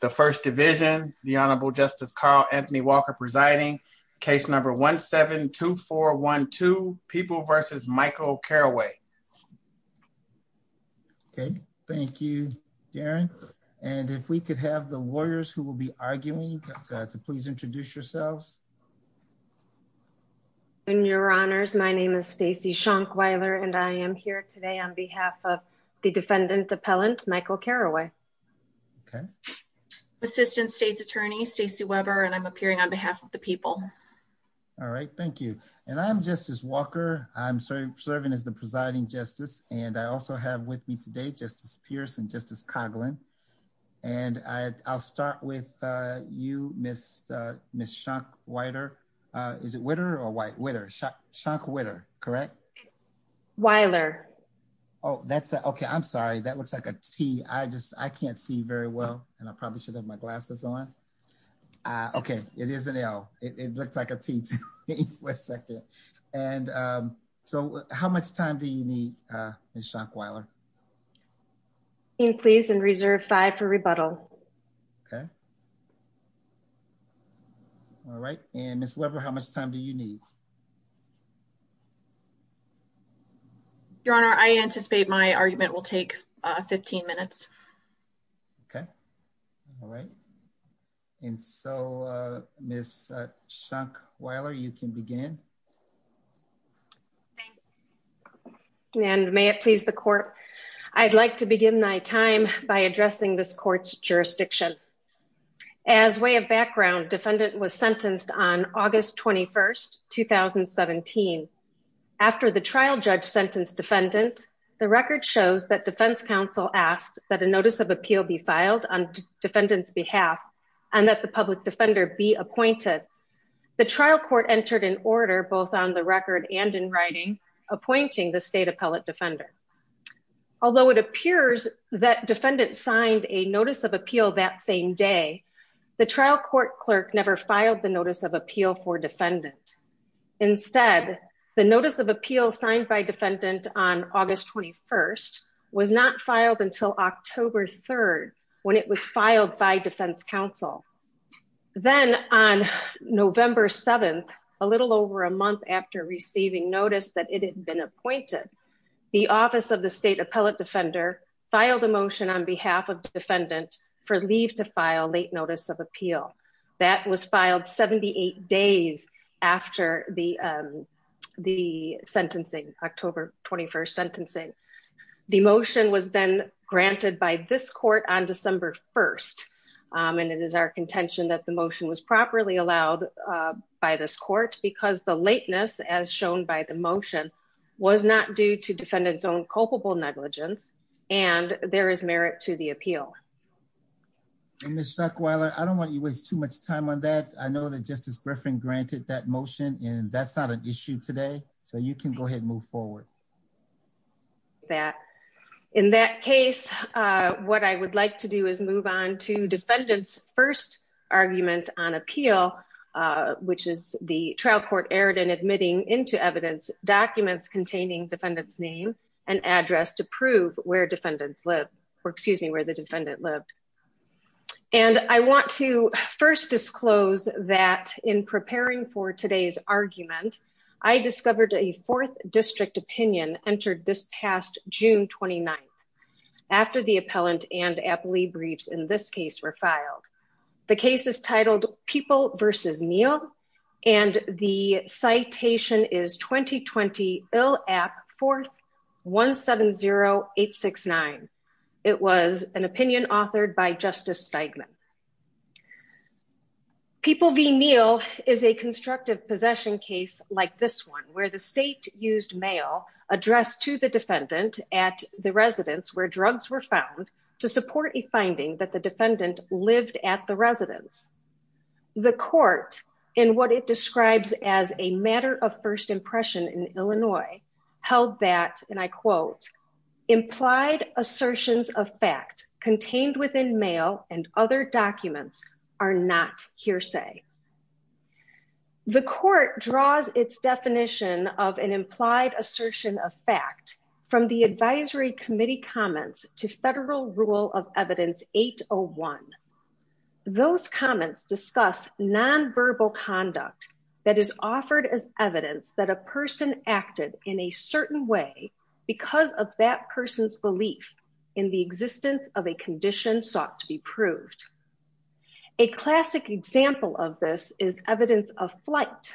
The First Division, the Honorable Justice Carl Anthony Walker presiding. Case number 1-7-2-4-1-2, People v. Michael Carraway. Okay, thank you, Darren. And if we could have the lawyers who will be arguing to please introduce yourselves. In your honors, my name is Stacey Schunkweiler and I am here today on behalf of the defendant appellant, Michael Carraway. Assistant State's Attorney Stacey Weber and I'm appearing on behalf of the people. All right, thank you. And I'm Justice Walker. I'm serving as the presiding justice, and I also have with me today Justice Pierce and Justice Coughlin. And I'll start with you, Ms. Schunkweiler. Is it Witter or White? Witter. Schunkwitter, correct? Weiler. Oh, that's okay. I'm sorry. That looks like a T. I just I can't see very well, and I probably should have my glasses on. Okay, it is an L. It looks like a T to me for a second. And so how much time do you need, Ms. Schunkweiler? Please and reserve five for rebuttal. Okay. All right. And Ms. Weber, how much time do you need? Your Honor, I anticipate my argument will take 15 minutes. Okay. All right. And so, Ms. Schunkweiler, you can begin. Thank you. And may it please the court, I'd like to begin my time by addressing this court's jurisdiction. As way of background, defendant was sentenced on August 21st, 2017. After the trial judge sentenced defendant, the record shows that defense counsel asked that a notice of appeal be filed on defendant's behalf and that the public defender be appointed. The trial court entered an order, both on the record and in writing, appointing the state appellate defender. Although it appears that defendant signed a notice of appeal that same day, the trial court clerk never filed the notice of appeal for defendant. Instead, the notice of appeal signed by defendant on August 21st was not filed until October 3rd, when it was filed by defense counsel. Then on November 7th, a little over a month after receiving notice that it had been appointed, the office of the state appellate defender filed a motion on behalf of defendant for leave to file late notice of appeal. That was filed 78 days after the sentencing, October 21st sentencing. The motion was then granted by this court on December 1st, and it is our contention that the motion was properly allowed by this court because the lateness as shown by the motion was not due to defendant's own culpable negligence, and there is merit to the appeal. And Ms. Feckweiler, I don't want you to waste too much time on that. I know that Justice Griffin granted that motion and that's not an issue today, so you can go ahead and move forward. In that case, what I would like to do is move on to defendant's first argument on appeal, which is the trial court erred in admitting into evidence documents containing defendant's name and address to prove where defendants live, or excuse me, where the defendant lived. And I want to first disclose that in preparing for today's argument, I discovered a fourth district opinion entered this past June 29th, after the appellant and appellee briefs in this case were filed. The case is titled People v. Neal, and the citation is 2020 Bill App 4th 170869. It was an opinion authored by Justice Steigman. People v. Neal is a constructive possession case like this one where the state used mail addressed to the defendant at the residence where drugs were found to support a finding that the defendant lived at the residence. The court in what it describes as a matter of first impression in Illinois held that, and I quote, implied assertions of fact contained within mail and other documents are not hearsay. The court draws its definition of an implied assertion of fact from the advisory committee comments to federal rule of evidence 801. Those comments discuss nonverbal conduct that is offered as evidence that a person acted in a certain way because of that person's belief in the existence of a condition sought to be proved. A classic example of this is evidence of flight.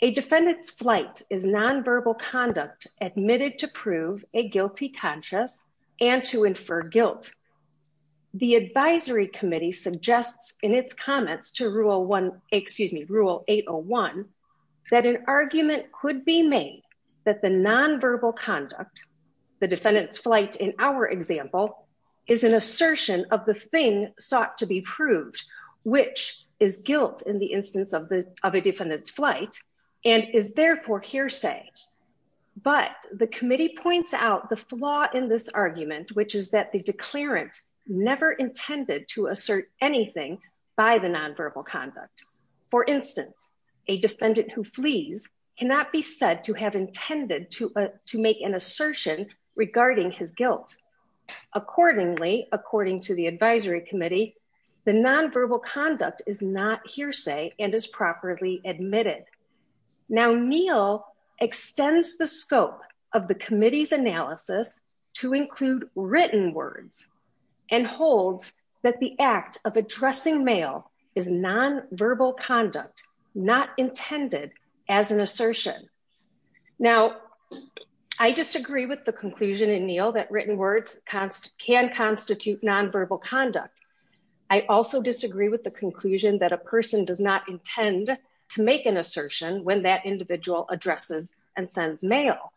A defendant's flight is nonverbal conduct admitted to prove a guilty conscious and to infer guilt. The advisory committee suggests in its comments to rule one, excuse me, rule 801 that an argument could be made that the nonverbal conduct. The defendant's flight in our example is an assertion of the thing sought to be proved, which is guilt in the instance of the of a defendant's flight and is therefore hearsay. But the committee points out the flaw in this argument, which is that the declarant never intended to assert anything by the nonverbal conduct. For instance, a defendant who flees cannot be said to have intended to make an assertion regarding his guilt. Accordingly, according to the advisory committee, the nonverbal conduct is not hearsay and is properly admitted. Now Neil extends the scope of the committee's analysis to include written words and holds that the act of addressing mail is nonverbal conduct, not intended as an assertion. Now, I disagree with the conclusion in Neil that written words can constitute nonverbal conduct. I also disagree with the conclusion that a person does not intend to make an assertion when that individual addresses and sends mail.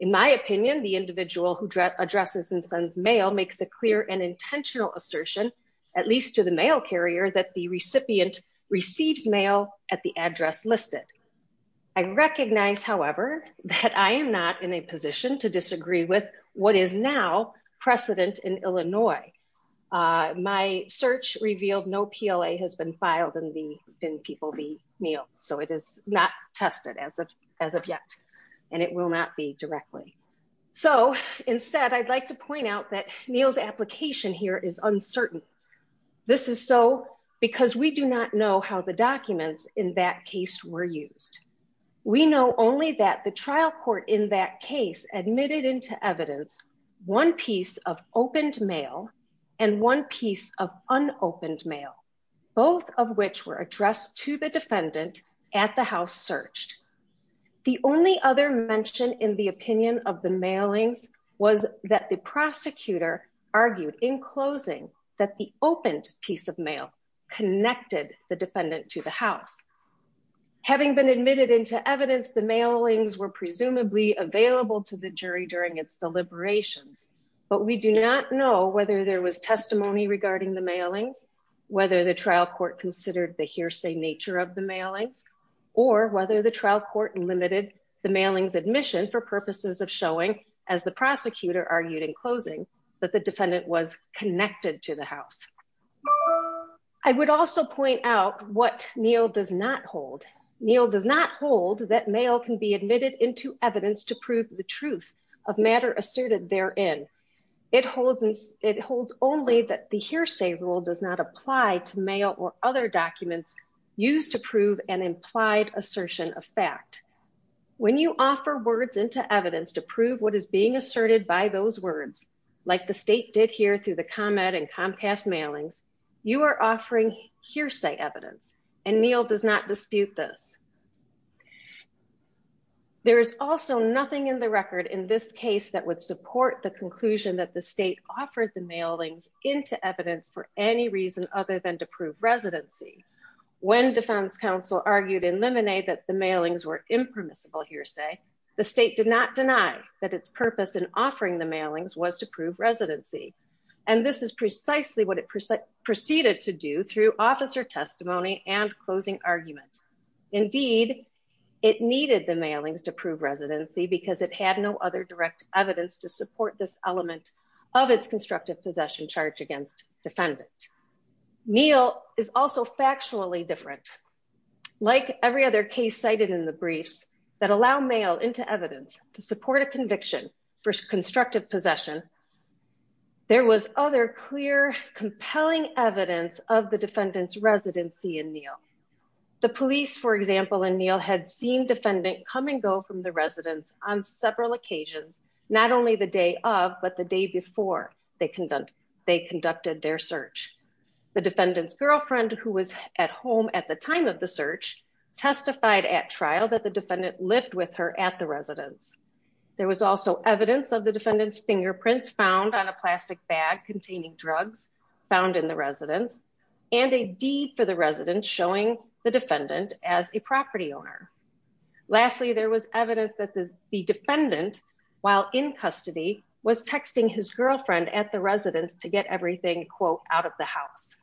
In my opinion, the individual who addresses and sends mail makes a clear and intentional assertion, at least to the mail carrier, that the recipient receives mail at the address listed. I recognize, however, that I am not in a position to disagree with what is now precedent in Illinois. My search revealed no PLA has been filed in the people v. Neil, so it is not tested as of yet, and it will not be directly. So instead, I'd like to point out that Neil's application here is uncertain. This is so because we do not know how the documents in that case were used. We know only that the trial court in that case admitted into evidence one piece of opened mail and one piece of unopened mail, both of which were addressed to the defendant at the house searched. The only other mention in the opinion of the mailings was that the prosecutor argued in closing that the opened piece of mail connected the defendant to the house. Having been admitted into evidence, the mailings were presumably available to the jury during its deliberations. But we do not know whether there was testimony regarding the mailings, whether the trial court considered the hearsay nature of the mailings, or whether the trial court limited the mailings admission for purposes of showing, as the prosecutor argued in closing, that the defendant was connected to the house. I would also point out what Neil does not hold. Neil does not hold that mail can be admitted into evidence to prove the truth of matter asserted therein. It holds only that the hearsay rule does not apply to mail or other documents used to prove an implied assertion of fact. When you offer words into evidence to prove what is being asserted by those words, like the state did here through the ComEd and Comcast mailings, you are offering hearsay evidence, and Neil does not dispute this. There is also nothing in the record in this case that would support the conclusion that the state offered the mailings into evidence for any reason other than to prove residency. When defense counsel argued in Lemonade that the mailings were impermissible hearsay, the state did not deny that its purpose in offering the mailings was to prove residency. And this is precisely what it proceeded to do through officer testimony and closing argument. Indeed, it needed the mailings to prove residency because it had no other direct evidence to support this element of its constructive possession charge against defendant. Neil is also factually different. Like every other case cited in the briefs that allow mail into evidence to support a conviction for constructive possession, there was other clear, compelling evidence of the defendant's residency in Neil. The police, for example, in Neil had seen defendant come and go from the residence on several occasions, not only the day of, but the day before they conducted their search. The defendant's girlfriend, who was at home at the time of the search, testified at trial that the defendant lived with her at the residence. There was also evidence of the defendant's fingerprints found on a plastic bag containing drugs found in the residence and a deed for the residence showing the defendant as a property owner. Lastly, there was evidence that the defendant, while in custody, was texting his girlfriend at the residence to get everything, quote, out of the house.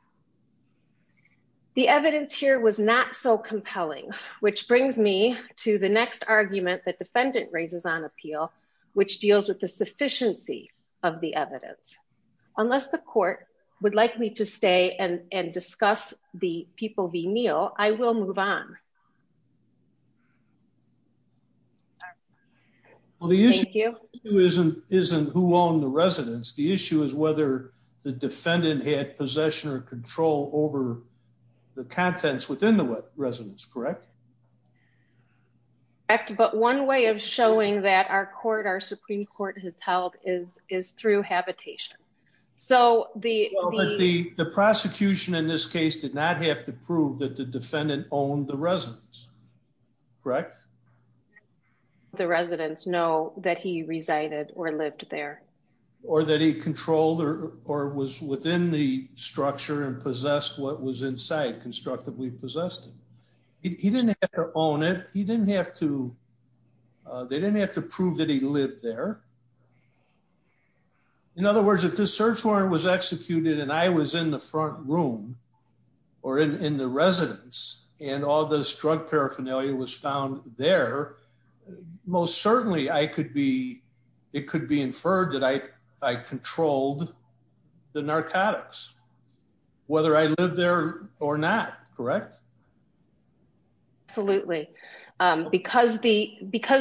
The evidence here was not so compelling, which brings me to the next argument that defendant raises on appeal, which deals with the sufficiency of the evidence. Unless the court would like me to stay and discuss the people v. Neil, I will move on. Well, the issue isn't who owned the residence. The issue is whether the defendant had possession or control over the contents within the residence, correct? Correct, but one way of showing that our court, our Supreme Court has held is through habitation. The prosecution in this case did not have to prove that the defendant owned the residence, correct? The residence, no, that he resided or lived there. Or that he controlled or was within the structure and possessed what was inside, constructively possessed him. He didn't have to own it. They didn't have to prove that he lived there. In other words, if this search warrant was executed and I was in the front room or in the residence and all this drug paraphernalia was found there, most certainly it could be inferred that I controlled the narcotics, whether I lived there or not, correct? Absolutely. Because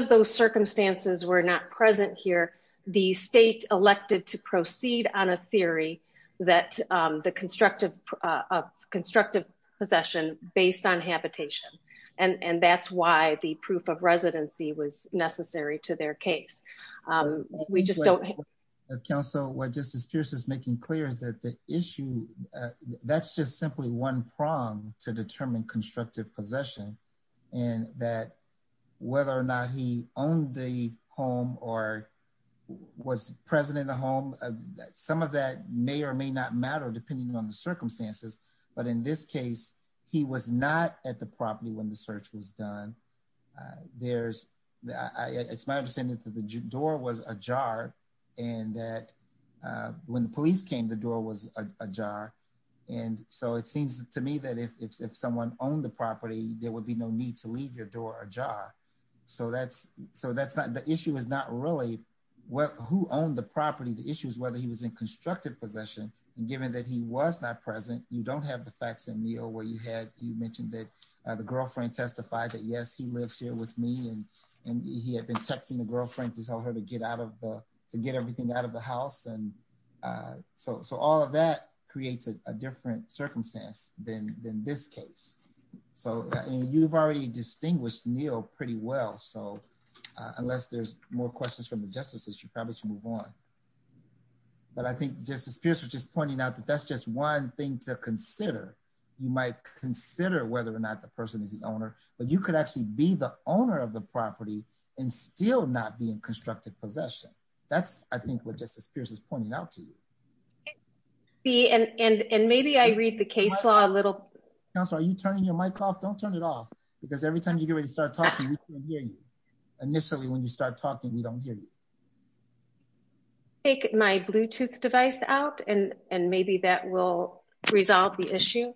those circumstances were not present here, the state elected to proceed on a theory that the constructive possession based on habitation. And that's why the proof of residency was necessary to their case. Counsel, what Justice Pierce is making clear is that the issue, that's just simply one prong to determine constructive possession and that whether or not he owned the home or was present in the home. Some of that may or may not matter depending on the circumstances. But in this case, he was not at the property when the search was done. It's my understanding that the door was ajar and that when the police came, the door was ajar. And so it seems to me that if someone owned the property, there would be no need to leave your door ajar. So the issue is not really who owned the property. The issue is whether he was in constructive possession. And given that he was not present, you don't have the facts in Neal where you mentioned that the girlfriend testified that, yes, he lives here with me. And he had been texting the girlfriend to tell her to get everything out of the house. And so all of that creates a different circumstance than this case. So you've already distinguished Neal pretty well. So unless there's more questions from the justices, you probably should move on. But I think Justice Pierce was just pointing out that that's just one thing to consider. You might consider whether or not the person is the owner, but you could actually be the owner of the property and still not be in constructive possession. That's, I think, what Justice Pierce is pointing out to you. And maybe I read the case law a little. Counselor, are you turning your mic off? Don't turn it off. Because every time you get ready to start talking, we can't hear you. Initially, when you start talking, we don't hear you. Take my Bluetooth device out, and maybe that will resolve the issue.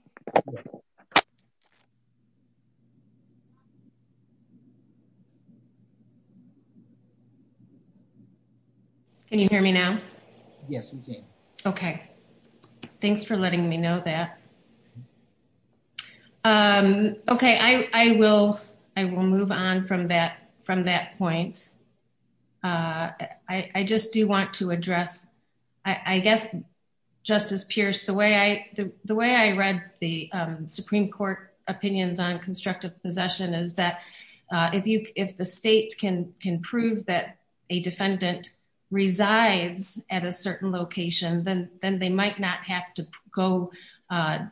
Can you hear me now? Yes, we can. Okay. Thanks for letting me know that. Okay, I will move on from that point. I just do want to address, I guess, Justice Pierce, the way I read the Supreme Court opinions on constructive possession is that if the state can prove that a defendant resides at a certain location, then they might not have to go.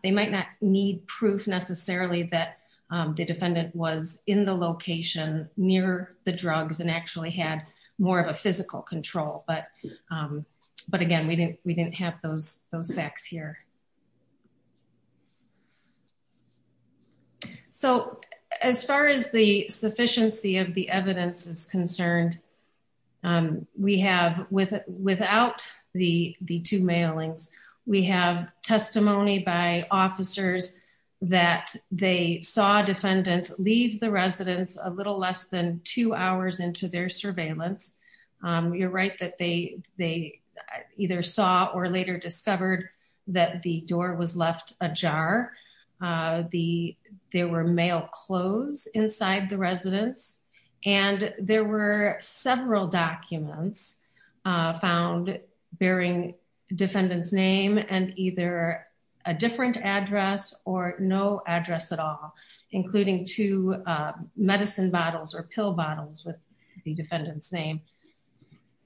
They might not need proof necessarily that the defendant was in the location near the drugs and actually had more of a physical control. But again, we didn't have those facts here. So, as far as the sufficiency of the evidence is concerned, we have, without the two mailings, we have testimony by officers that they saw a defendant leave the residence a little less than two hours into their surveillance. You're right that they either saw or later discovered that the door was left ajar. There were mail clothes inside the residence, and there were several documents found bearing defendant's name and either a different address or no address at all, including two medicine bottles or pill bottles with the defendant's name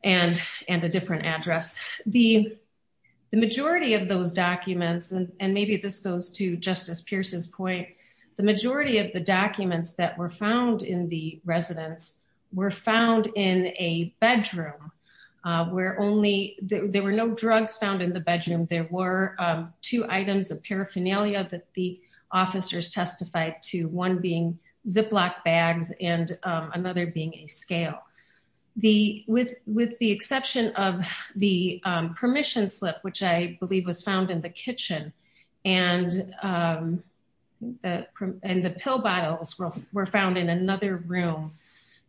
and a different address. The majority of those documents, and maybe this goes to Justice Pierce's point, the majority of the documents that were found in the residence were found in a bedroom. There were no drugs found in the bedroom. There were two items of paraphernalia that the officers testified to, one being Ziploc bags and another being a scale. With the exception of the permission slip, which I believe was found in the kitchen, and the pill bottles were found in another room,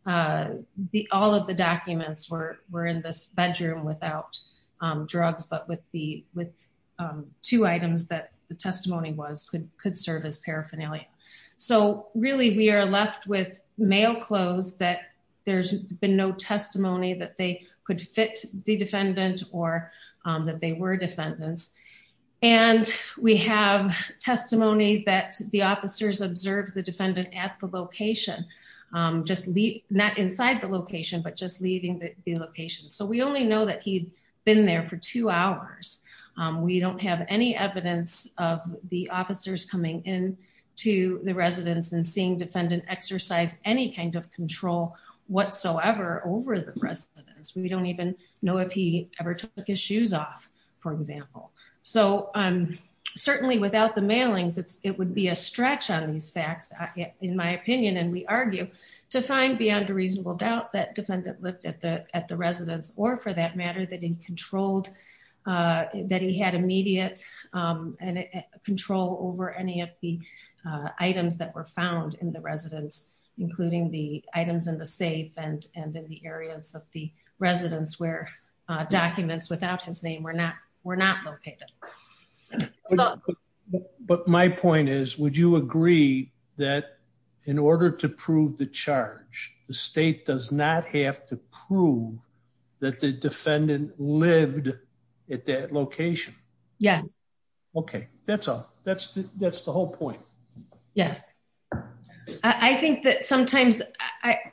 all of the documents were in this bedroom without drugs, but with two items that the testimony was could serve as paraphernalia. Really, we are left with mail clothes that there's been no testimony that they could fit the defendant or that they were defendants. We have testimony that the officers observed the defendant at the location, not inside the location, but just leaving the location. We only know that he'd been there for two hours. We don't have any evidence of the officers coming in to the residence and seeing defendant exercise any kind of control whatsoever over the residence. We don't even know if he ever took his shoes off, for example. Certainly, without the mailings, it would be a stretch on these facts, in my opinion, and we argue, to find beyond a reasonable doubt that defendant looked at the residence or, for that matter, that he had immediate control over any of the items that were found in the residence, including the items in the safe and in the areas of the residence where documents without his name were not located. But my point is, would you agree that in order to prove the charge, the state does not have to prove that the defendant lived at that location? Yes. Okay, that's all. That's the whole point. Yes. I think that sometimes, I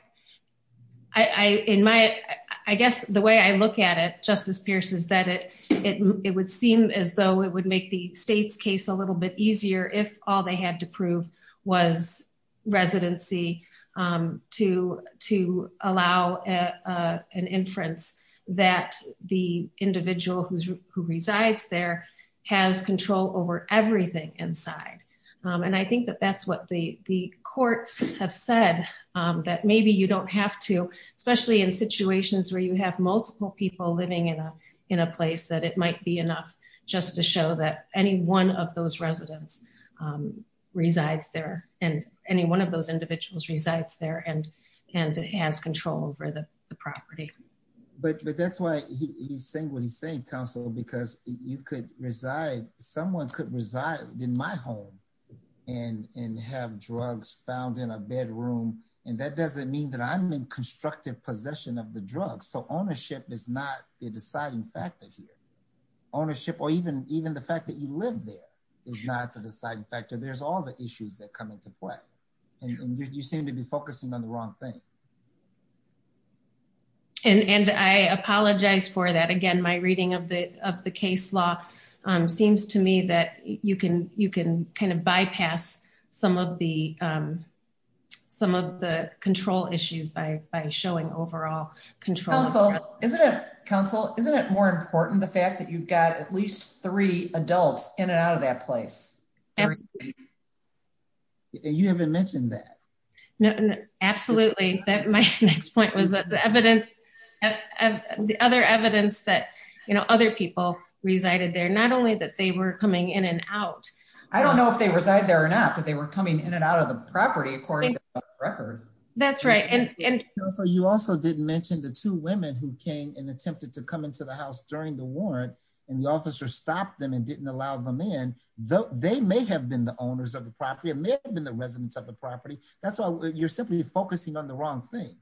guess the way I look at it, Justice Pierce, is that it would seem as though it would make the state's case a little bit easier if all they had to prove was residency to allow an inference that the individual who resides there has control over everything inside. And I think that that's what the courts have said, that maybe you don't have to, especially in situations where you have multiple people living in a place, that it might be enough just to show that any one of those residents resides there, and any one of those individuals resides there and has control over the property. But that's why he's saying what he's saying, counsel, because you could reside, someone could reside in my home and have drugs found in a bedroom, and that doesn't mean that I'm in constructive possession of the drugs, so ownership is not the deciding factor here. Ownership, or even the fact that you live there, is not the deciding factor. There's all the issues that come into play, and you seem to be focusing on the wrong thing. And I apologize for that. Again, my reading of the case law seems to me that you can kind of bypass some of the control issues by showing overall control. Counsel, isn't it more important, the fact that you've got at least three adults in and out of that place? Absolutely. You haven't mentioned that. Absolutely. My next point was that the other evidence that other people resided there, not only that they were coming in and out. I don't know if they reside there or not, but they were coming in and out of the property, according to the record. That's right. Counsel, you also didn't mention the two women who came and attempted to come into the house during the warrant, and the officer stopped them and didn't allow them in. They may have been the owners of the property. It may have been the residents of the property. That's why you're simply focusing on the wrong thing.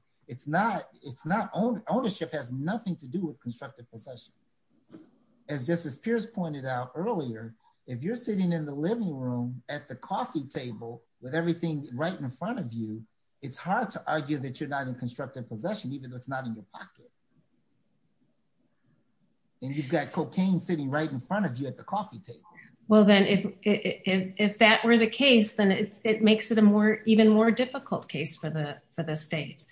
Ownership has nothing to do with constructive possession. As Justice Pierce pointed out earlier, if you're sitting in the living room at the coffee table with everything right in front of you, it's hard to argue that you're not in constructive possession, even though it's not in your pocket. And you've got cocaine sitting right in front of you at the coffee table. If that were the case, then it makes it an even more difficult case for the state.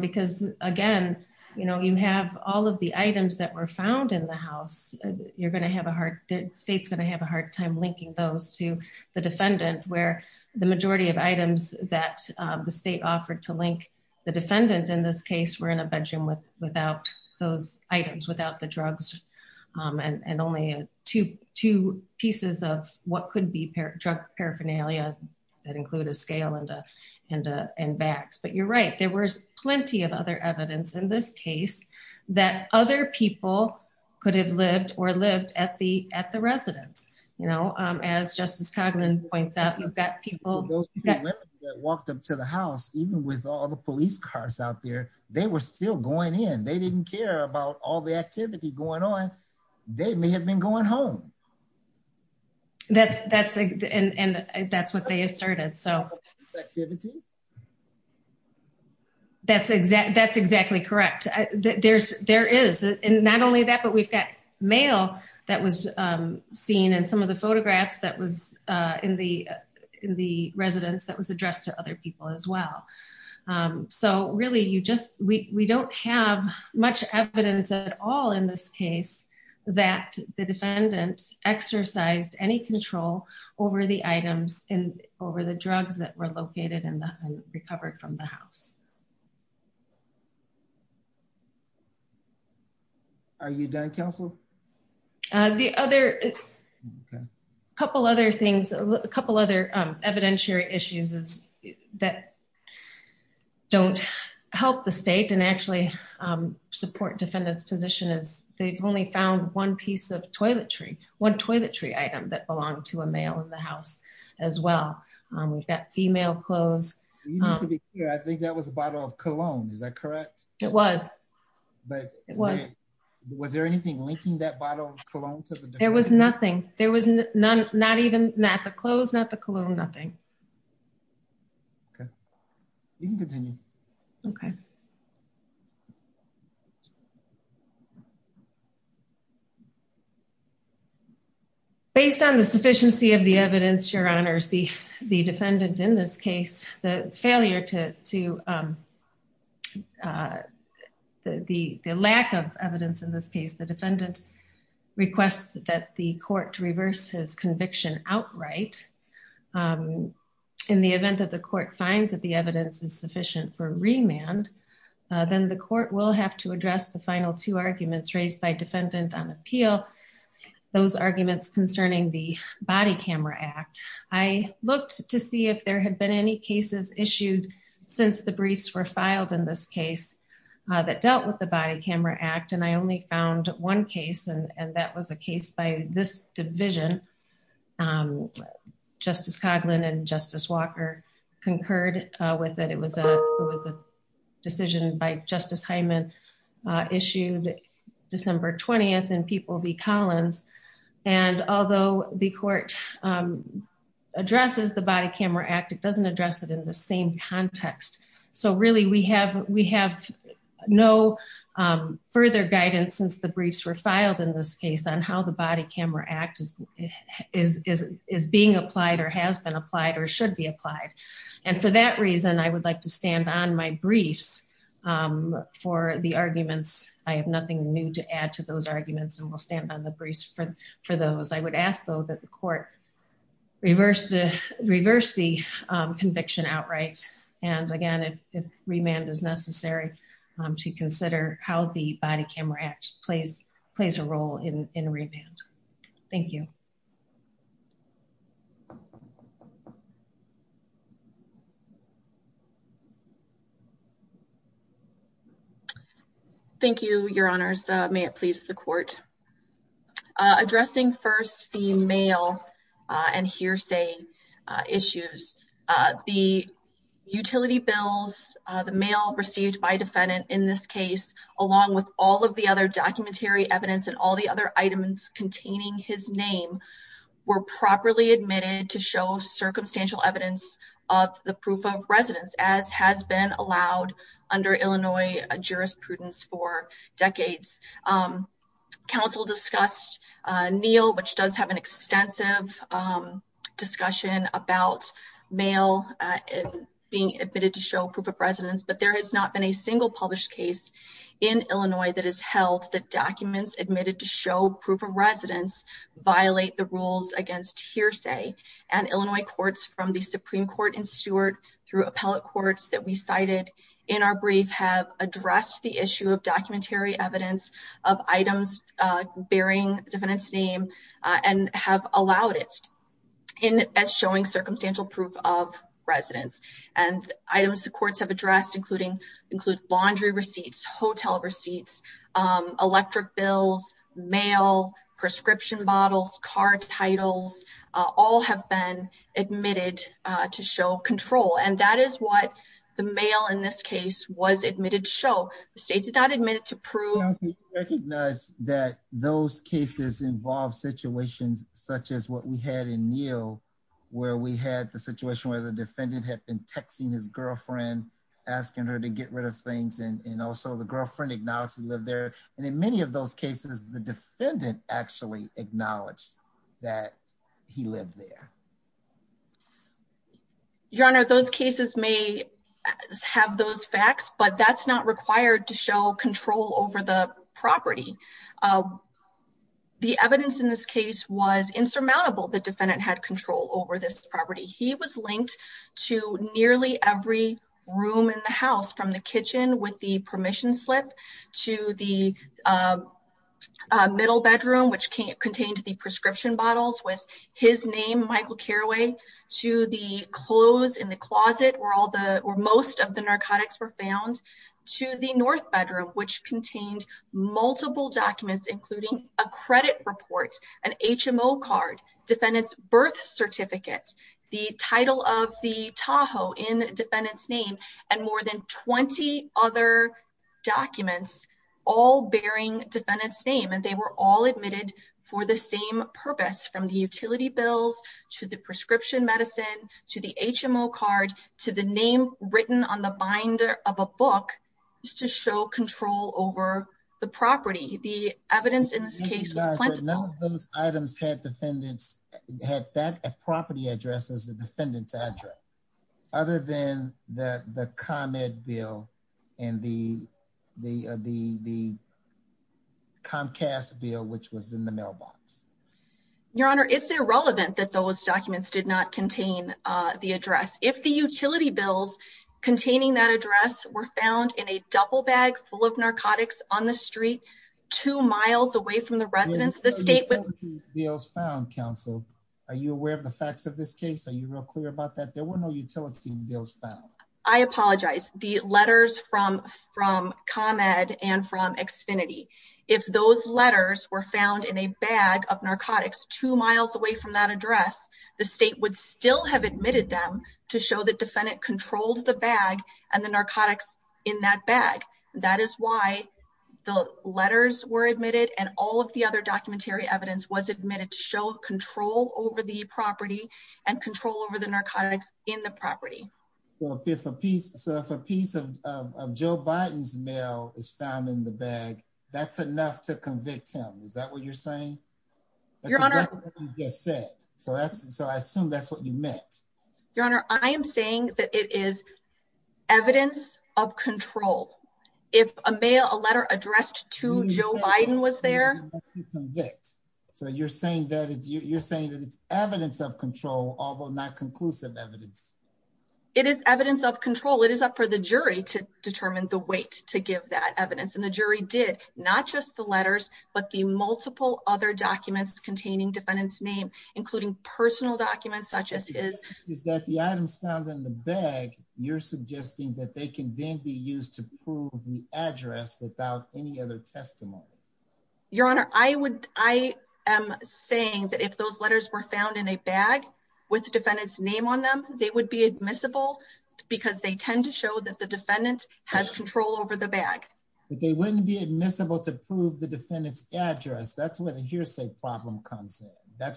Because, again, you have all of the items that were found in the house. The state's going to have a hard time linking those to the defendant, where the majority of items that the state offered to link the defendant in this case were in a bedroom without those items, without the drugs. And only two pieces of what could be drug paraphernalia that include a scale and bags. But you're right. There was plenty of other evidence in this case that other people could have lived or lived at the residence. As Justice Coghlan points out, you've got people... Those two women that walked up to the house, even with all the police cars out there, they were still going in. They didn't care about all the activity going on. They may have been going home. And that's what they asserted. That's exactly correct. There is. And not only that, but we've got mail that was seen and some of the photographs that was in the residence that was addressed to other people as well. So really, we don't have much evidence at all in this case that the defendant exercised any control over the items and over the drugs that were located and recovered from the house. Are you done, Counsel? A couple other things, a couple other evidentiary issues that don't help the state and actually support defendants position is they've only found one piece of toiletry, one toiletry item that belonged to a male in the house as well. We've got female clothes. I think that was a bottle of cologne. Is that correct? It was. Was there anything linking that bottle of cologne? There was nothing. There was none, not even, not the clothes, not the cologne, nothing. Okay. You can continue. Okay. Based on the sufficiency of the evidence, Your Honors, the defendant in this case, the failure to, the lack of evidence in this case, the defendant requests that the court reverse his conviction outright. In the event that the court finds that the evidence is sufficient for remand, then the court will have to address the final two arguments raised by defendant on appeal, those arguments concerning the body camera act. I looked to see if there had been any cases issued since the briefs were filed in this case that dealt with the body camera act. And I only found one case. And that was a case by this division. Justice Coughlin and Justice Walker concurred with it. It was a decision by Justice Hyman issued December 20th in People v. Collins. And although the court addresses the body camera act, it doesn't address it in the same context. So really we have no further guidance since the briefs were filed in this case on how the body camera act is being applied or has been applied or should be applied. And for that reason, I would like to stand on my briefs for the arguments. I have nothing new to add to those arguments and will stand on the briefs for those. I would ask, though, that the court reverse the conviction outright. And again, if remand is necessary to consider how the body camera act plays a role in remand. Thank you. Thank you, Your Honors. May it please the court. Addressing first the mail and hearsay issues. The utility bills, the mail received by defendant in this case, along with all of the other documentary evidence and all the other items containing his name, were properly admitted to show circumstantial evidence of the proof of residence, as has been allowed under Illinois jurisprudence for decades. Council discussed Neal, which does have an extensive discussion about mail being admitted to show proof of residence. But there has not been a single published case in Illinois that has held that documents admitted to show proof of residence violate the rules against hearsay. And Illinois courts from the Supreme Court and Stewart through appellate courts that we cited in our brief have addressed the issue of documentary evidence of items bearing defendant's name and have allowed it as showing circumstantial proof of residence. And items the courts have addressed include laundry receipts, hotel receipts, electric bills, mail, prescription bottles, card titles, all have been admitted to show control. And that is what the mail in this case was admitted to show. Recognize that those cases involve situations such as what we had in Neal, where we had the situation where the defendant had been texting his girlfriend, asking her to get rid of things and also the girlfriend acknowledged to live there. And in many of those cases, the defendant actually acknowledged that he lived there. Your Honor, those cases may have those facts, but that's not required to show control over the property. The evidence in this case was insurmountable. The defendant had control over this property. He was linked to nearly every room in the house from the kitchen with the permission slip to the middle bedroom, which contained the prescription bottles with his name, Michael Carraway, to the clothes in the closet, where most of the narcotics were found, to the north bedroom, which contained multiple documents, including a credit report, an HMO card, defendant's birth certificate. The title of the Tahoe in defendant's name and more than 20 other documents, all bearing defendant's name, and they were all admitted for the same purpose from the utility bills to the prescription medicine to the HMO card to the name written on the binder of a book to show control over the property. The evidence in this case was plentiful. None of those items had that property address as the defendant's address, other than the ComEd bill and the Comcast bill, which was in the mailbox. Your Honor, it's irrelevant that those documents did not contain the address. If the utility bills containing that address were found in a double bag full of narcotics on the street, two miles away from the residence, the state bills found counsel. Are you aware of the facts of this case? Are you real clear about that? There were no utility bills. I apologize. The letters from ComEd and from Xfinity, if those letters were found in a bag of narcotics two miles away from that address, the state would still have admitted them to show that defendant controlled the bag and the narcotics in that bag. That is why the letters were admitted and all of the other documentary evidence was admitted to show control over the property and control over the narcotics in the property. So if a piece of Joe Biden's mail is found in the bag, that's enough to convict him. Is that what you're saying? Your Honor. That's exactly what you just said. So I assume that's what you meant. Your Honor, I am saying that it is evidence of control. If a mail, a letter addressed to Joe Biden was there. So you're saying that you're saying that it's evidence of control, although not conclusive evidence. It is evidence of control. It is up for the jury to determine the weight to give that evidence. And the jury did not just the letters, but the multiple other documents containing defendant's name, including personal documents such as his. Is that the items found in the bag, you're suggesting that they can then be used to prove the address without any other testimony. Your Honor, I am saying that if those letters were found in a bag with defendant's name on them, they would be admissible because they tend to show that the defendant has control over the bag. But they wouldn't be admissible to prove the defendant's address. That's where the hearsay problem comes in.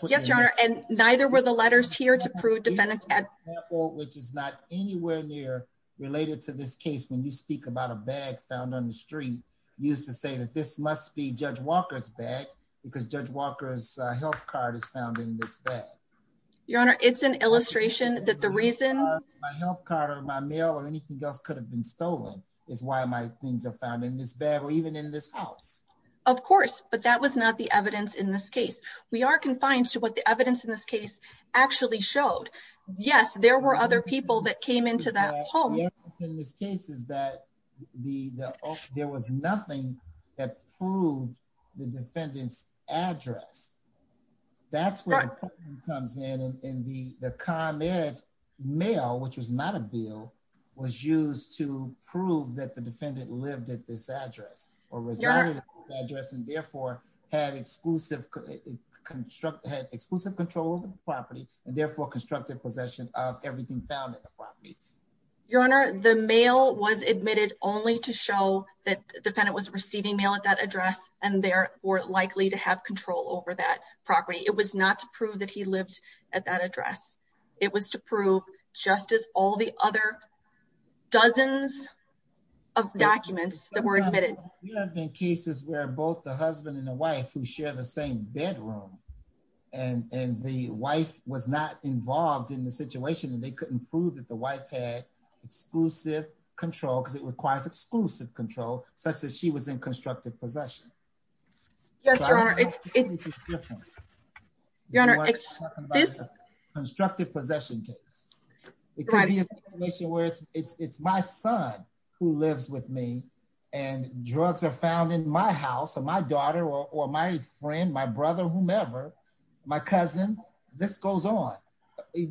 Yes, Your Honor. And neither were the letters here to prove defendant's address. For example, which is not anywhere near related to this case, when you speak about a bag found on the street, you used to say that this must be Judge Walker's bag because Judge Walker's health card is found in this bag. Your Honor, it's an illustration that the reason. My health card or my mail or anything else could have been stolen is why my things are found in this bag or even in this house. Of course, but that was not the evidence in this case. We are confined to what the evidence in this case actually showed. Yes, there were other people that came into that home. The evidence in this case is that there was nothing that proved the defendant's address. That's where the problem comes in. And the ComEd mail, which was not a bill, was used to prove that the defendant lived at this address or resided at this address and therefore had exclusive control over the property and therefore constructed possession of everything found in the property. However, the mail was admitted only to show that the defendant was receiving mail at that address and therefore likely to have control over that property. It was not to prove that he lived at that address. It was to prove just as all the other dozens of documents that were admitted. There have been cases where both the husband and the wife who share the same bedroom and the wife was not involved in the situation and they couldn't prove that the wife had exclusive control because it requires exclusive control, such as she was in constructive possession. Yes, Your Honor, it's constructive possession case. It could be a situation where it's my son who lives with me and drugs are found in my house or my daughter or my friend, my brother, whomever, my cousin. This goes on,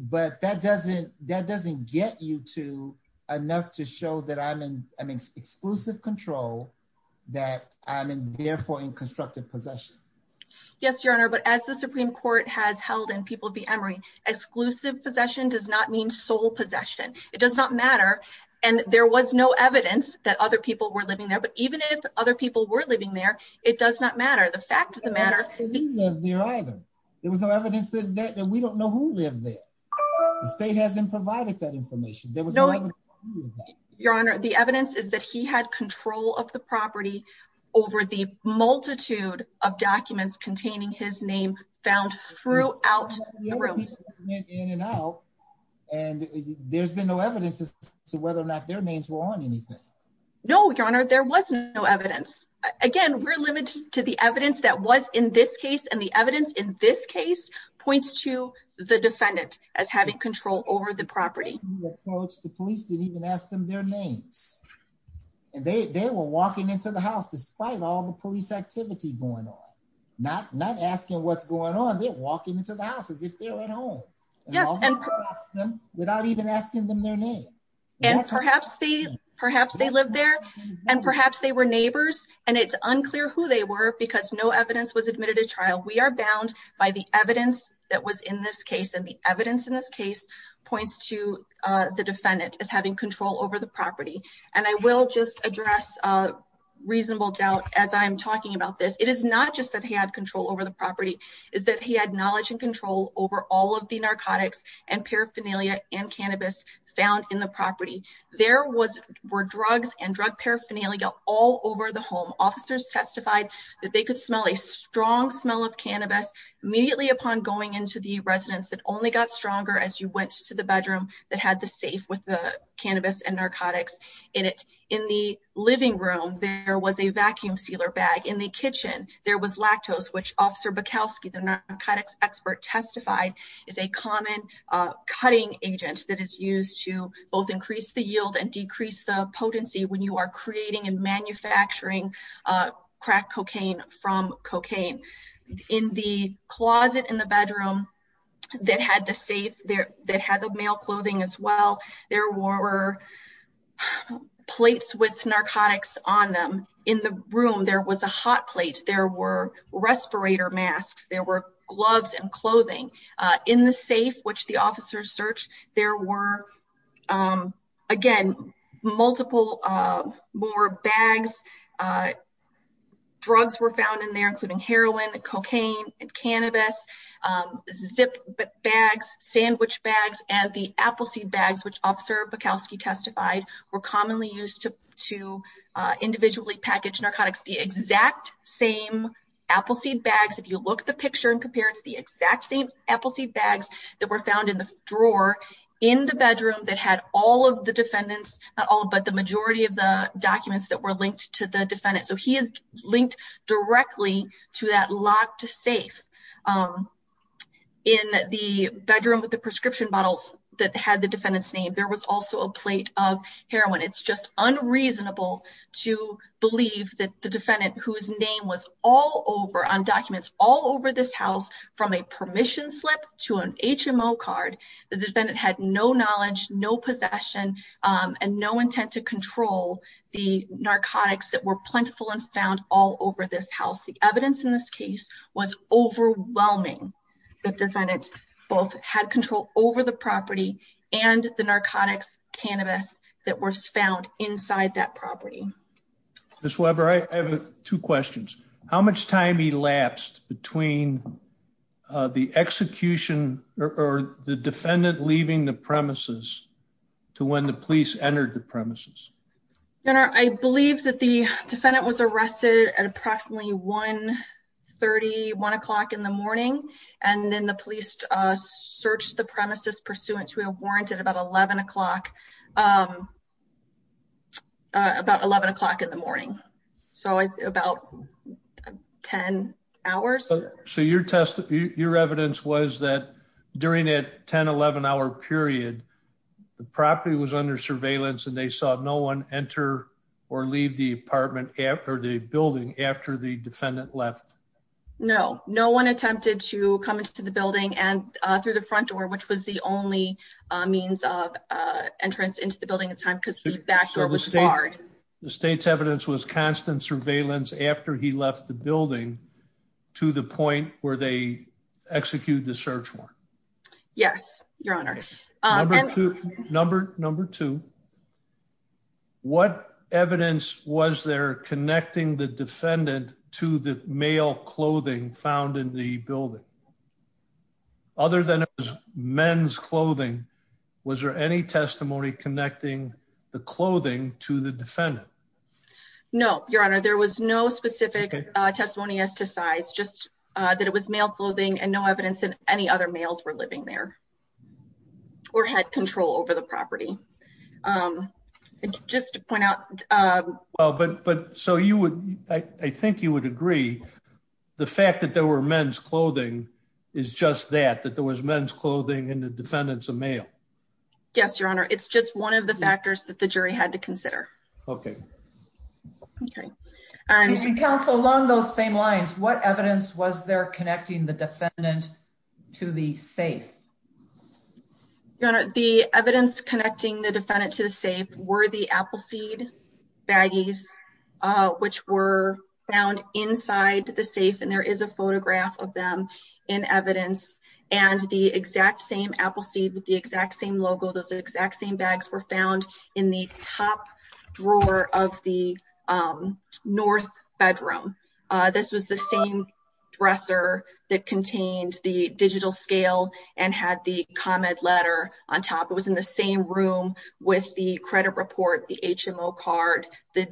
but that doesn't get you to enough to show that I'm in exclusive control, that I'm in therefore in constructive possession. Yes, Your Honor, but as the Supreme Court has held in People v. Emory, exclusive possession does not mean sole possession. It does not matter. And there was no evidence that other people were living there, but even if other people were living there, it does not matter. There was no evidence that we don't know who lived there. The state hasn't provided that information. Your Honor, the evidence is that he had control of the property over the multitude of documents containing his name found throughout the rooms. And there's been no evidence as to whether or not their names were on anything. No, Your Honor, there was no evidence. Again, we're limited to the evidence that was in this case, and the evidence in this case points to the defendant as having control over the property. The police didn't even ask them their names. And they were walking into the house despite all the police activity going on. Not asking what's going on, they're walking into the house as if they're at home. Yes. Without even asking them their name. And perhaps they lived there, and perhaps they were neighbors, and it's unclear who they were because no evidence was admitted at trial. We are bound by the evidence that was in this case, and the evidence in this case points to the defendant as having control over the property. And I will just address reasonable doubt as I'm talking about this. It is not just that he had control over the property. It's that he had knowledge and control over all of the narcotics and paraphernalia and cannabis found in the property. There were drugs and drug paraphernalia all over the home. Officers testified that they could smell a strong smell of cannabis immediately upon going into the residence that only got stronger as you went to the bedroom that had the safe with the cannabis and narcotics in it. In the living room, there was a vacuum sealer bag. In the kitchen, there was lactose, which Officer Bukowski, the narcotics expert, testified is a common cutting agent that is used to both increase the yield and decrease the potency when you are creating and manufacturing crack cocaine from cocaine. In the closet in the bedroom that had the safe, that had the male clothing as well, there were plates with narcotics on them. In the room, there was a hot plate. There were respirator masks. There were gloves and clothing. In the safe, which the officers searched, there were, again, multiple more bags. Drugs were found in there, including heroin, cocaine, and cannabis. Zip bags, sandwich bags, and the apple seed bags, which Officer Bukowski testified were commonly used to individually package narcotics. The exact same apple seed bags, if you look at the picture and compare it to the exact same apple seed bags that were found in the drawer in the bedroom that had all of the defendants, not all, but the majority of the documents that were linked to the defendant. So he is linked directly to that locked safe. In the bedroom with the prescription bottles that had the defendant's name, there was also a plate of heroin. It's just unreasonable to believe that the defendant, whose name was all over on documents all over this house, from a permission slip to an HMO card, the defendant had no knowledge, no possession, and no intent to control the narcotics that were plentiful and found all over this house. The evidence in this case was overwhelming. The defendant both had control over the property and the narcotics, cannabis that was found inside that property. Ms. Weber, I have two questions. How much time elapsed between the execution or the defendant leaving the premises to when the police entered the premises? Your Honor, I believe that the defendant was arrested at approximately 1.30, 1 o'clock in the morning. And then the police searched the premises pursuant to a warrant at about 11 o'clock. About 11 o'clock in the morning. So about 10 hours. So your evidence was that during that 10-11 hour period, the property was under surveillance and they saw no one enter or leave the apartment or the building after the defendant left? No. No one attempted to come into the building through the front door, which was the only means of entrance into the building at the time because the back door was barred. The state's evidence was constant surveillance after he left the building to the point where they executed the search warrant? Yes, Your Honor. Number two, what evidence was there connecting the defendant to the male clothing found in the building? Other than men's clothing, was there any testimony connecting the clothing to the defendant? No, Your Honor. There was no specific testimony as to size, just that it was male clothing and no evidence that any other males were living there. Or had control over the property. Just to point out... I think you would agree, the fact that there were men's clothing is just that, that there was men's clothing and the defendant's a male? Yes, Your Honor. It's just one of the factors that the jury had to consider. Okay. Counsel, along those same lines, what evidence was there connecting the defendant to the safe? Your Honor, the evidence connecting the defendant to the safe were the apple seed baggies, which were found inside the safe. And there is a photograph of them in evidence. And the exact same apple seed with the exact same logo, those exact same bags were found in the top drawer of the north bedroom. This was the same dresser that contained the digital scale and had the comment letter on top. It was in the same room with the credit report, the HMO card, the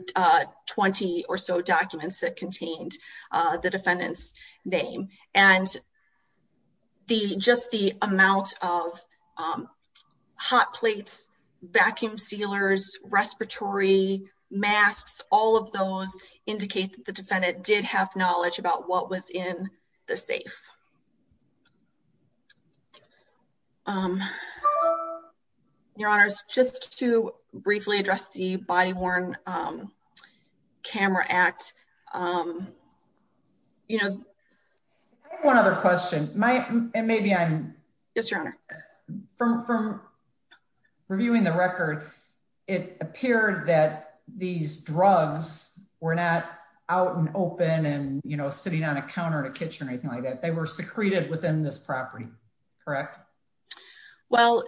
20 or so documents that contained the defendant's name. And just the amount of hot plates, vacuum sealers, respiratory masks, all of those indicate that the defendant did have knowledge about what was in the safe. Your Honor, just to briefly address the Body Worn Camera Act, you know... I have one other question. Yes, Your Honor. From reviewing the record, it appeared that these drugs were not out and open and, you know, sitting on a counter in a kitchen or anything like that. They were secreted within this property, correct? Well,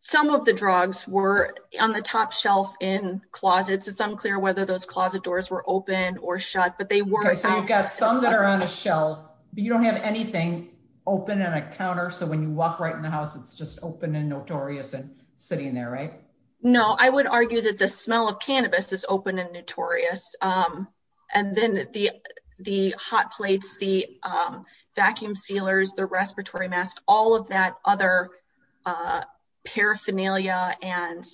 some of the drugs were on the top shelf in closets. It's unclear whether those closet doors were open or shut, but they were... Okay, so you've got some that are on a shelf, but you don't have anything open on a counter, so when you walk right in the house, it's just open and notorious and sitting there, right? No, I would argue that the smell of cannabis is open and notorious. And then the hot plates, the vacuum sealers, the respiratory mask, all of that other paraphernalia and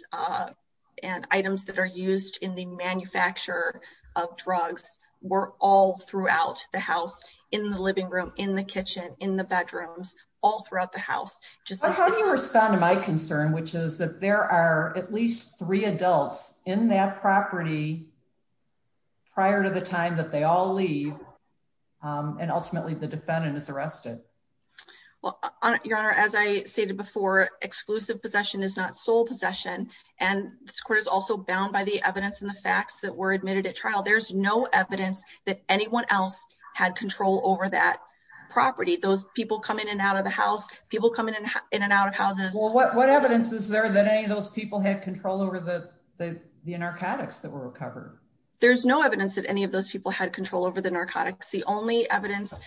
items that are used in the manufacture of drugs were all throughout the house, in the living room, in the kitchen, in the bedrooms, all throughout the house. How do you respond to my concern, which is that there are at least three adults in that property prior to the time that they all leave and ultimately the defendant is arrested? Well, Your Honor, as I stated before, exclusive possession is not sole possession, and this court is also bound by the evidence and the facts that were admitted at trial. There's no evidence that anyone else had control over that property. Those people come in and out of the house, people come in and out of houses... Well, what evidence is there that any of those people had control over the narcotics that were recovered? There's no evidence that any of those people had control over the narcotics. The only evidence...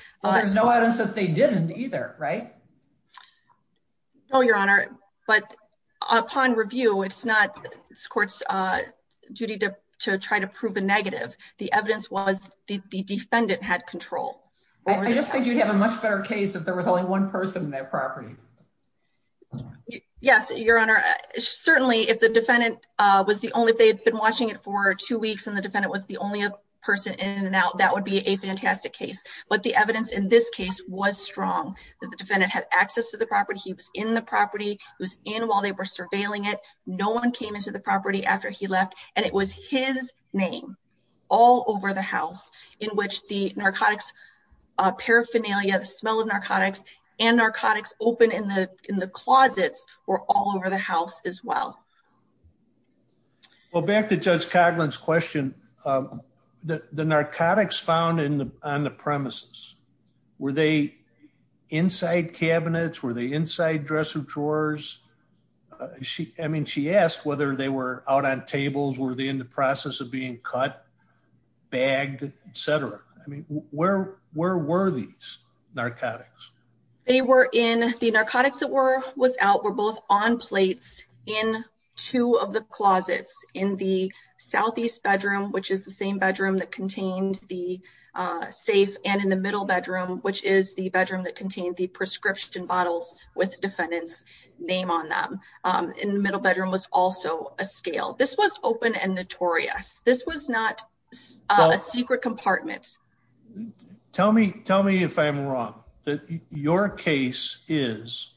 No, Your Honor, but upon review, it's not this court's duty to try to prove a negative. The evidence was the defendant had control. I just think you'd have a much better case if there was only one person in that property. Yes, Your Honor. Certainly, if the defendant was the only... if they had been watching it for two weeks and the defendant was the only person in and out, that would be a fantastic case. But the evidence in this case was strong that the defendant had access to the property. He was in the property. He was in while they were surveilling it. No one came into the property after he left. And it was his name all over the house in which the narcotics paraphernalia, the smell of narcotics and narcotics open in the closets were all over the house as well. Well, back to Judge Coughlin's question, the narcotics found on the premises, were they inside cabinets? Were they inside dresser drawers? I mean, she asked whether they were out on tables, were they in the process of being cut, bagged, etc. I mean, where were these narcotics? They were in... the narcotics that was out were both on plates in two of the closets in the southeast bedroom, which is the same bedroom that contained the safe and in the middle bedroom, which is the bedroom that contained the prescription bottles with defendant's name on them. In the middle bedroom was also a scale. This was open and notorious. This was not a secret compartment. Tell me if I'm wrong, that your case is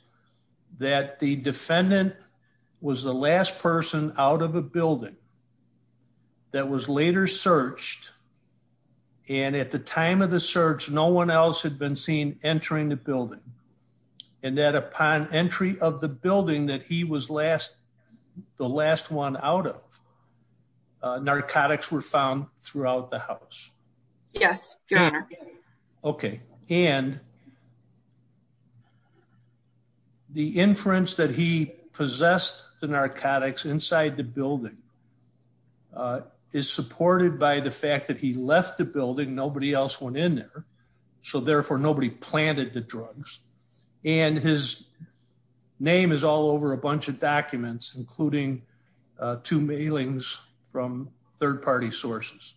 that the defendant was the last person out of a building that was later searched. And at the time of the search, no one else had been seen entering the building. And that upon entry of the building that he was the last one out of, narcotics were found throughout the house. Yes, Your Honor. Okay. And the inference that he possessed the narcotics inside the building is supported by the fact that he left the building, nobody else went in there. So therefore, nobody planted the drugs. And his name is all over a bunch of documents, including two mailings from third party sources.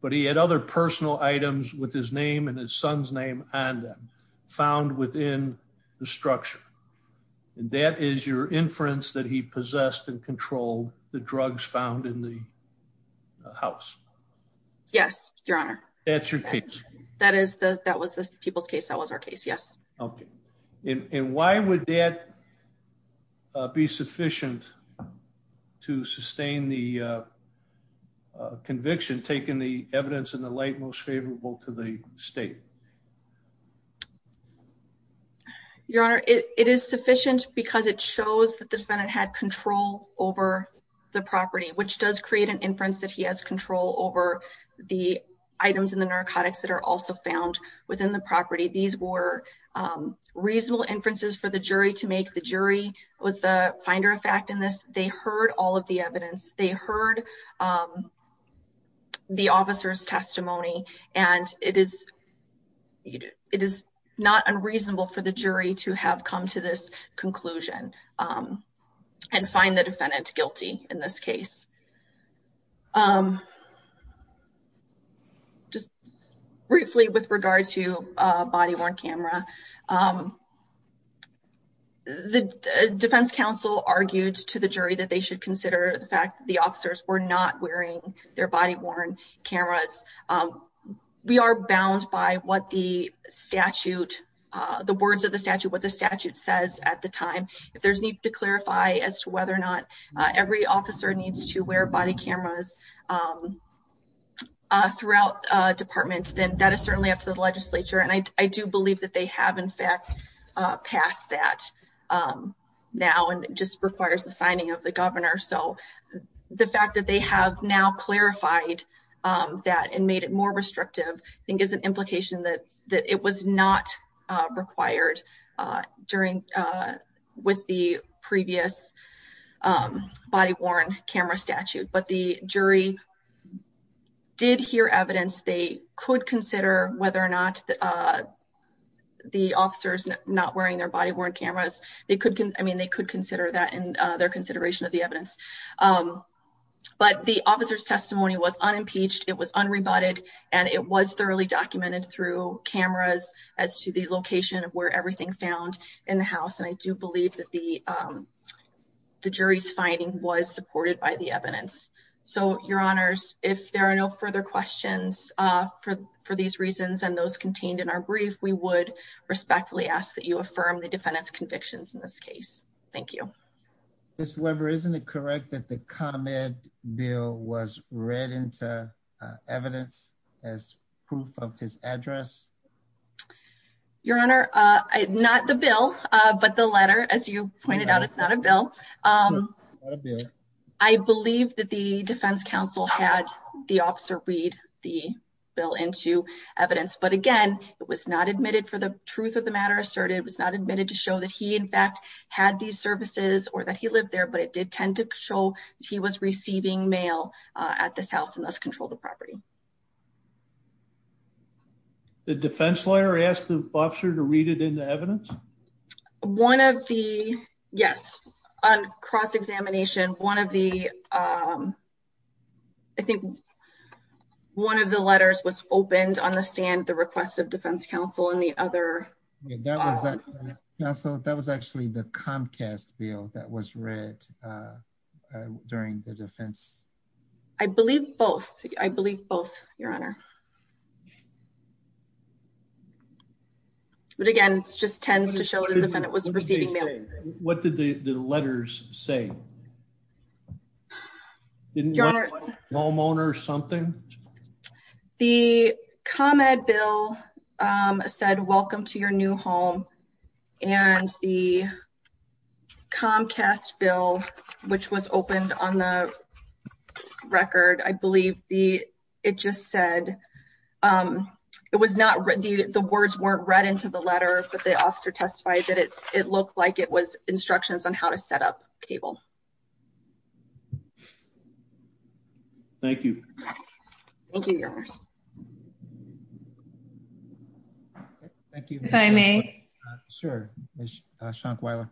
But he had other personal items with his name and his son's name on them, found within the structure. And that is your inference that he possessed and controlled the drugs found in the house. Yes, Your Honor. That's your case. That was the people's case. That was our case. Yes. Okay. And why would that be sufficient to sustain the conviction taking the evidence in the light most favorable to the state? Your Honor, it is sufficient because it shows that the defendant had control over the property, which does create an inference that he has control over the items in the narcotics that are also found within the property. These were reasonable inferences for the jury to make. The jury was the finder of fact in this. They heard all of the evidence. They heard the officer's testimony. And it is not unreasonable for the jury to have come to this conclusion and find the defendant guilty in this case. Just briefly with regard to a body-worn camera, the defense counsel argued to the jury that they should consider the fact that the officers were not wearing their body-worn cameras. We are bound by what the statute, the words of the statute, what the statute says at the time. If there's need to clarify as to whether or not every officer needs to wear body cameras throughout departments, then that is certainly up to the legislature. And I do believe that they have in fact passed that now and just requires the signing of the governor. So the fact that they have now clarified that and made it more restrictive I think is an implication that it was not required with the previous body-worn camera statute. But the jury did hear evidence. They could consider whether or not the officers not wearing their body-worn cameras. They could consider that in their consideration of the evidence. But the officer's testimony was unimpeached, it was unrebutted, and it was thoroughly documented through cameras as to the location of where everything found in the house. And I do believe that the jury's finding was supported by the evidence. So, Your Honors, if there are no further questions for these reasons and those contained in our brief, we would respectfully ask that you affirm the defendant's convictions in this case. Thank you. Ms. Weber, isn't it correct that the ComEd bill was read into evidence as proof of his address? Your Honor, not the bill, but the letter. As you pointed out, it's not a bill. I believe that the defense counsel had the officer read the bill into evidence, but again, it was not admitted for the truth of the matter asserted. It was not admitted to show that he in fact had these services or that he lived there, but it did tend to show that he was receiving mail at this house and thus controlled the property. Thank you. The defense lawyer asked the officer to read it into evidence? Yes. On cross-examination, I think one of the letters was opened on the stand at the request of defense counsel and the other... So that was actually the ComCast bill that was read during the defense... I believe both. I believe both, Your Honor. But again, it just tends to show that the defendant was receiving mail. What did the letters say? Your Honor... Homeowner something? The ComEd bill said, welcome to your new home, and the ComCast bill, which was opened on the record, I believe it just said... The words weren't read into the letter, but the officer testified that it looked like it was instructions on how to set up cable. Thank you. Thank you, Your Honor. Thank you. If I may? Sure, Ms. Schunkweiler.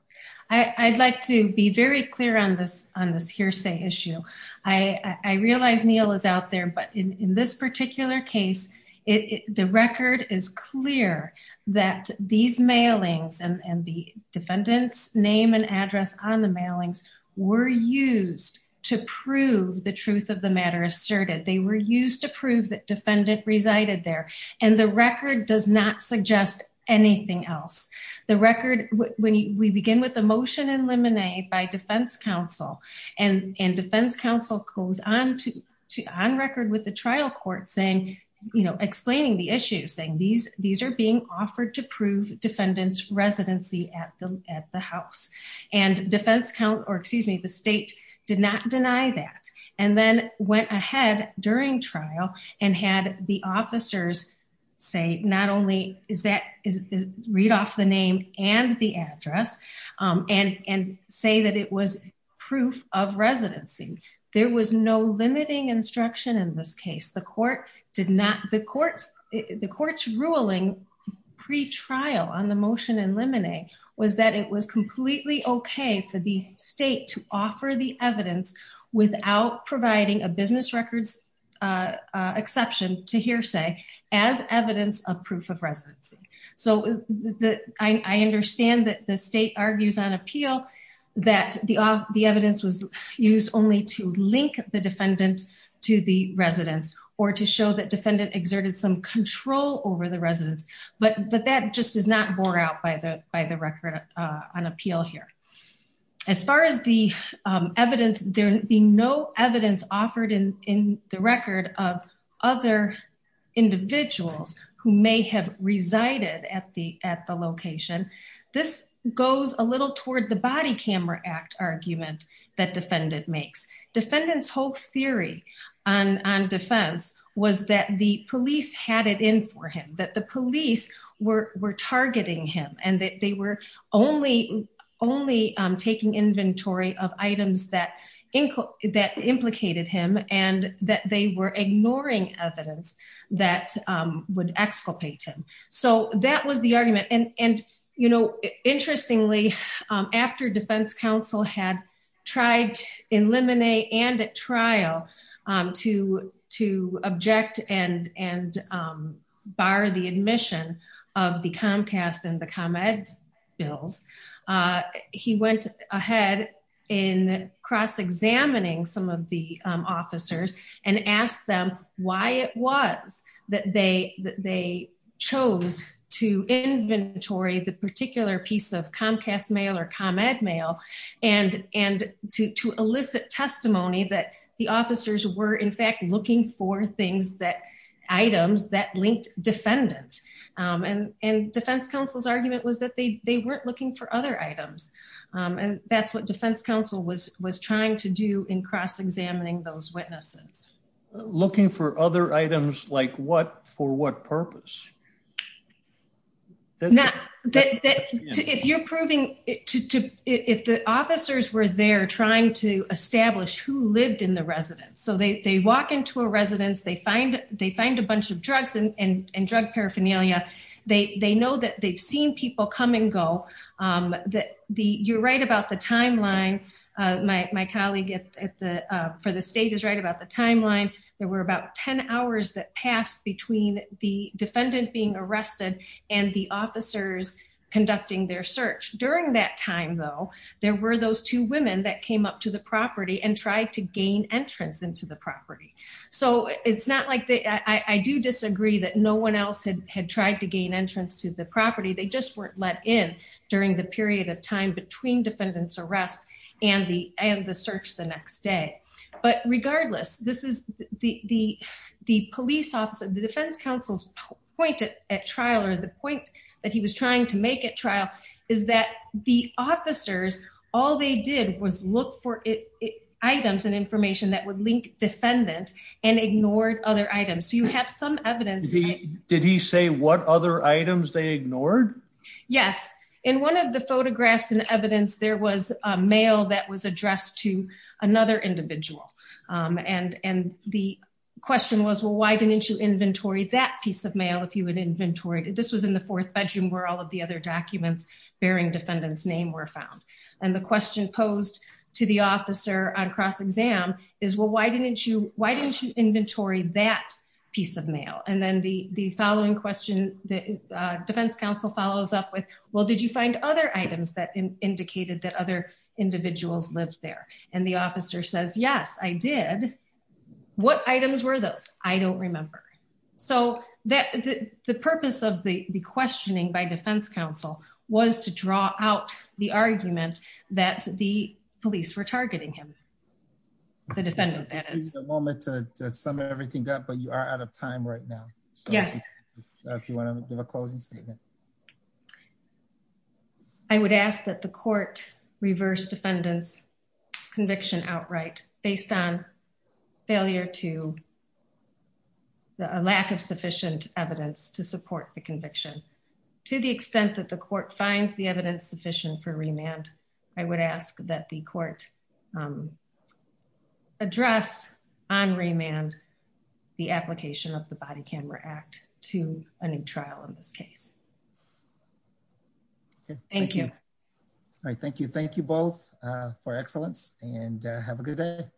I'd like to be very clear on this hearsay issue. I realize Neil is out there, but in this particular case, the record is clear that these mailings and the defendant's name and address on the mailings were used to prove the truth of the matter asserted. They were used to prove that defendant resided there, and the record does not suggest anything else. The record, when we begin with the motion in limine by defense counsel, and defense counsel goes on record with the trial court explaining the issue, saying these are being offered to prove defendant's residency at the house. The state did not deny that, and then went ahead during trial and had the officers read off the name and the address and say that it was proof of residency. There was no limiting instruction in this case. The court's ruling pre-trial on the motion in limine was that it was completely okay for the state to offer the evidence without providing a business records exception to hearsay as evidence of proof of residency. I understand that the state argues on appeal that the evidence was used only to link the defendant to the residence or to show that defendant exerted some control over the residence, but that just is not borne out by the record on appeal here. As far as the evidence, there being no evidence offered in the record of other individuals who may have resided at the location, this goes a little toward the body camera act argument that defendant makes. Defendant's whole theory on defense was that the police had it in for him, that the police were targeting him and that they were only taking inventory of items that implicated him and that they were ignoring evidence that would exculpate him. That was the argument. Interestingly, after defense counsel had tried in limine and at trial to object and bar the admission of the Comcast and the ComEd bills, he went ahead in cross-examining some of the officers and asked them why it was that they chose to inventory the particular piece of Comcast mail or ComEd mail and to elicit testimony that the officers were in fact looking for things that items that linked defendant. And defense counsel's argument was that they weren't looking for other items. And that's what defense counsel was trying to do in cross-examining those witnesses. Looking for other items, like what, for what purpose? If you're proving, if the officers were there trying to establish who lived in the residence, so they walk into a residence, they find a bunch of drugs and drug paraphernalia, they know that they've seen people come and go. You're right about the timeline. My colleague for the state is right about the timeline. There were about 10 hours that passed between the defendant being arrested and the officers conducting their search. During that time, though, there were those two women that came up to the property and tried to gain entrance into the property. So it's not like, I do disagree that no one else had tried to gain entrance to the property. They just weren't let in during the period of time between defendant's arrest and the search the next day. But regardless, this is the police officer, the defense counsel's point at trial, or the point that he was trying to make at trial, is that the officers, all they did was look for items and information that would link defendant and ignored other items. So you have some evidence. Did he say what other items they ignored? Yes. In one of the photographs and evidence, there was a mail that was addressed to another individual. And the question was, well, why didn't you inventory that piece of mail if you had inventory? This was in the fourth bedroom where all of the other documents bearing defendant's name were found. And the question posed to the officer on cross-exam is, well, why didn't you inventory that piece of mail? And then the following question, the defense counsel follows up with, well, did you find other items that indicated that other individuals lived there? And the officer says, yes, I did. What items were those? I don't remember. So the purpose of the questioning by defense counsel was to draw out the argument that the police were targeting him. The defendant's evidence. Just a moment to sum everything up, but you are out of time right now. Yes. If you want to give a closing statement. I would ask that the court reverse defendant's conviction outright based on failure to, a lack of sufficient evidence to support the conviction. To the extent that the court finds the evidence sufficient for remand, I would ask that the court address on remand the application of the Body Camera Act to a new trial in this case. Thank you. Thank you. Thank you both for excellence and have a good day.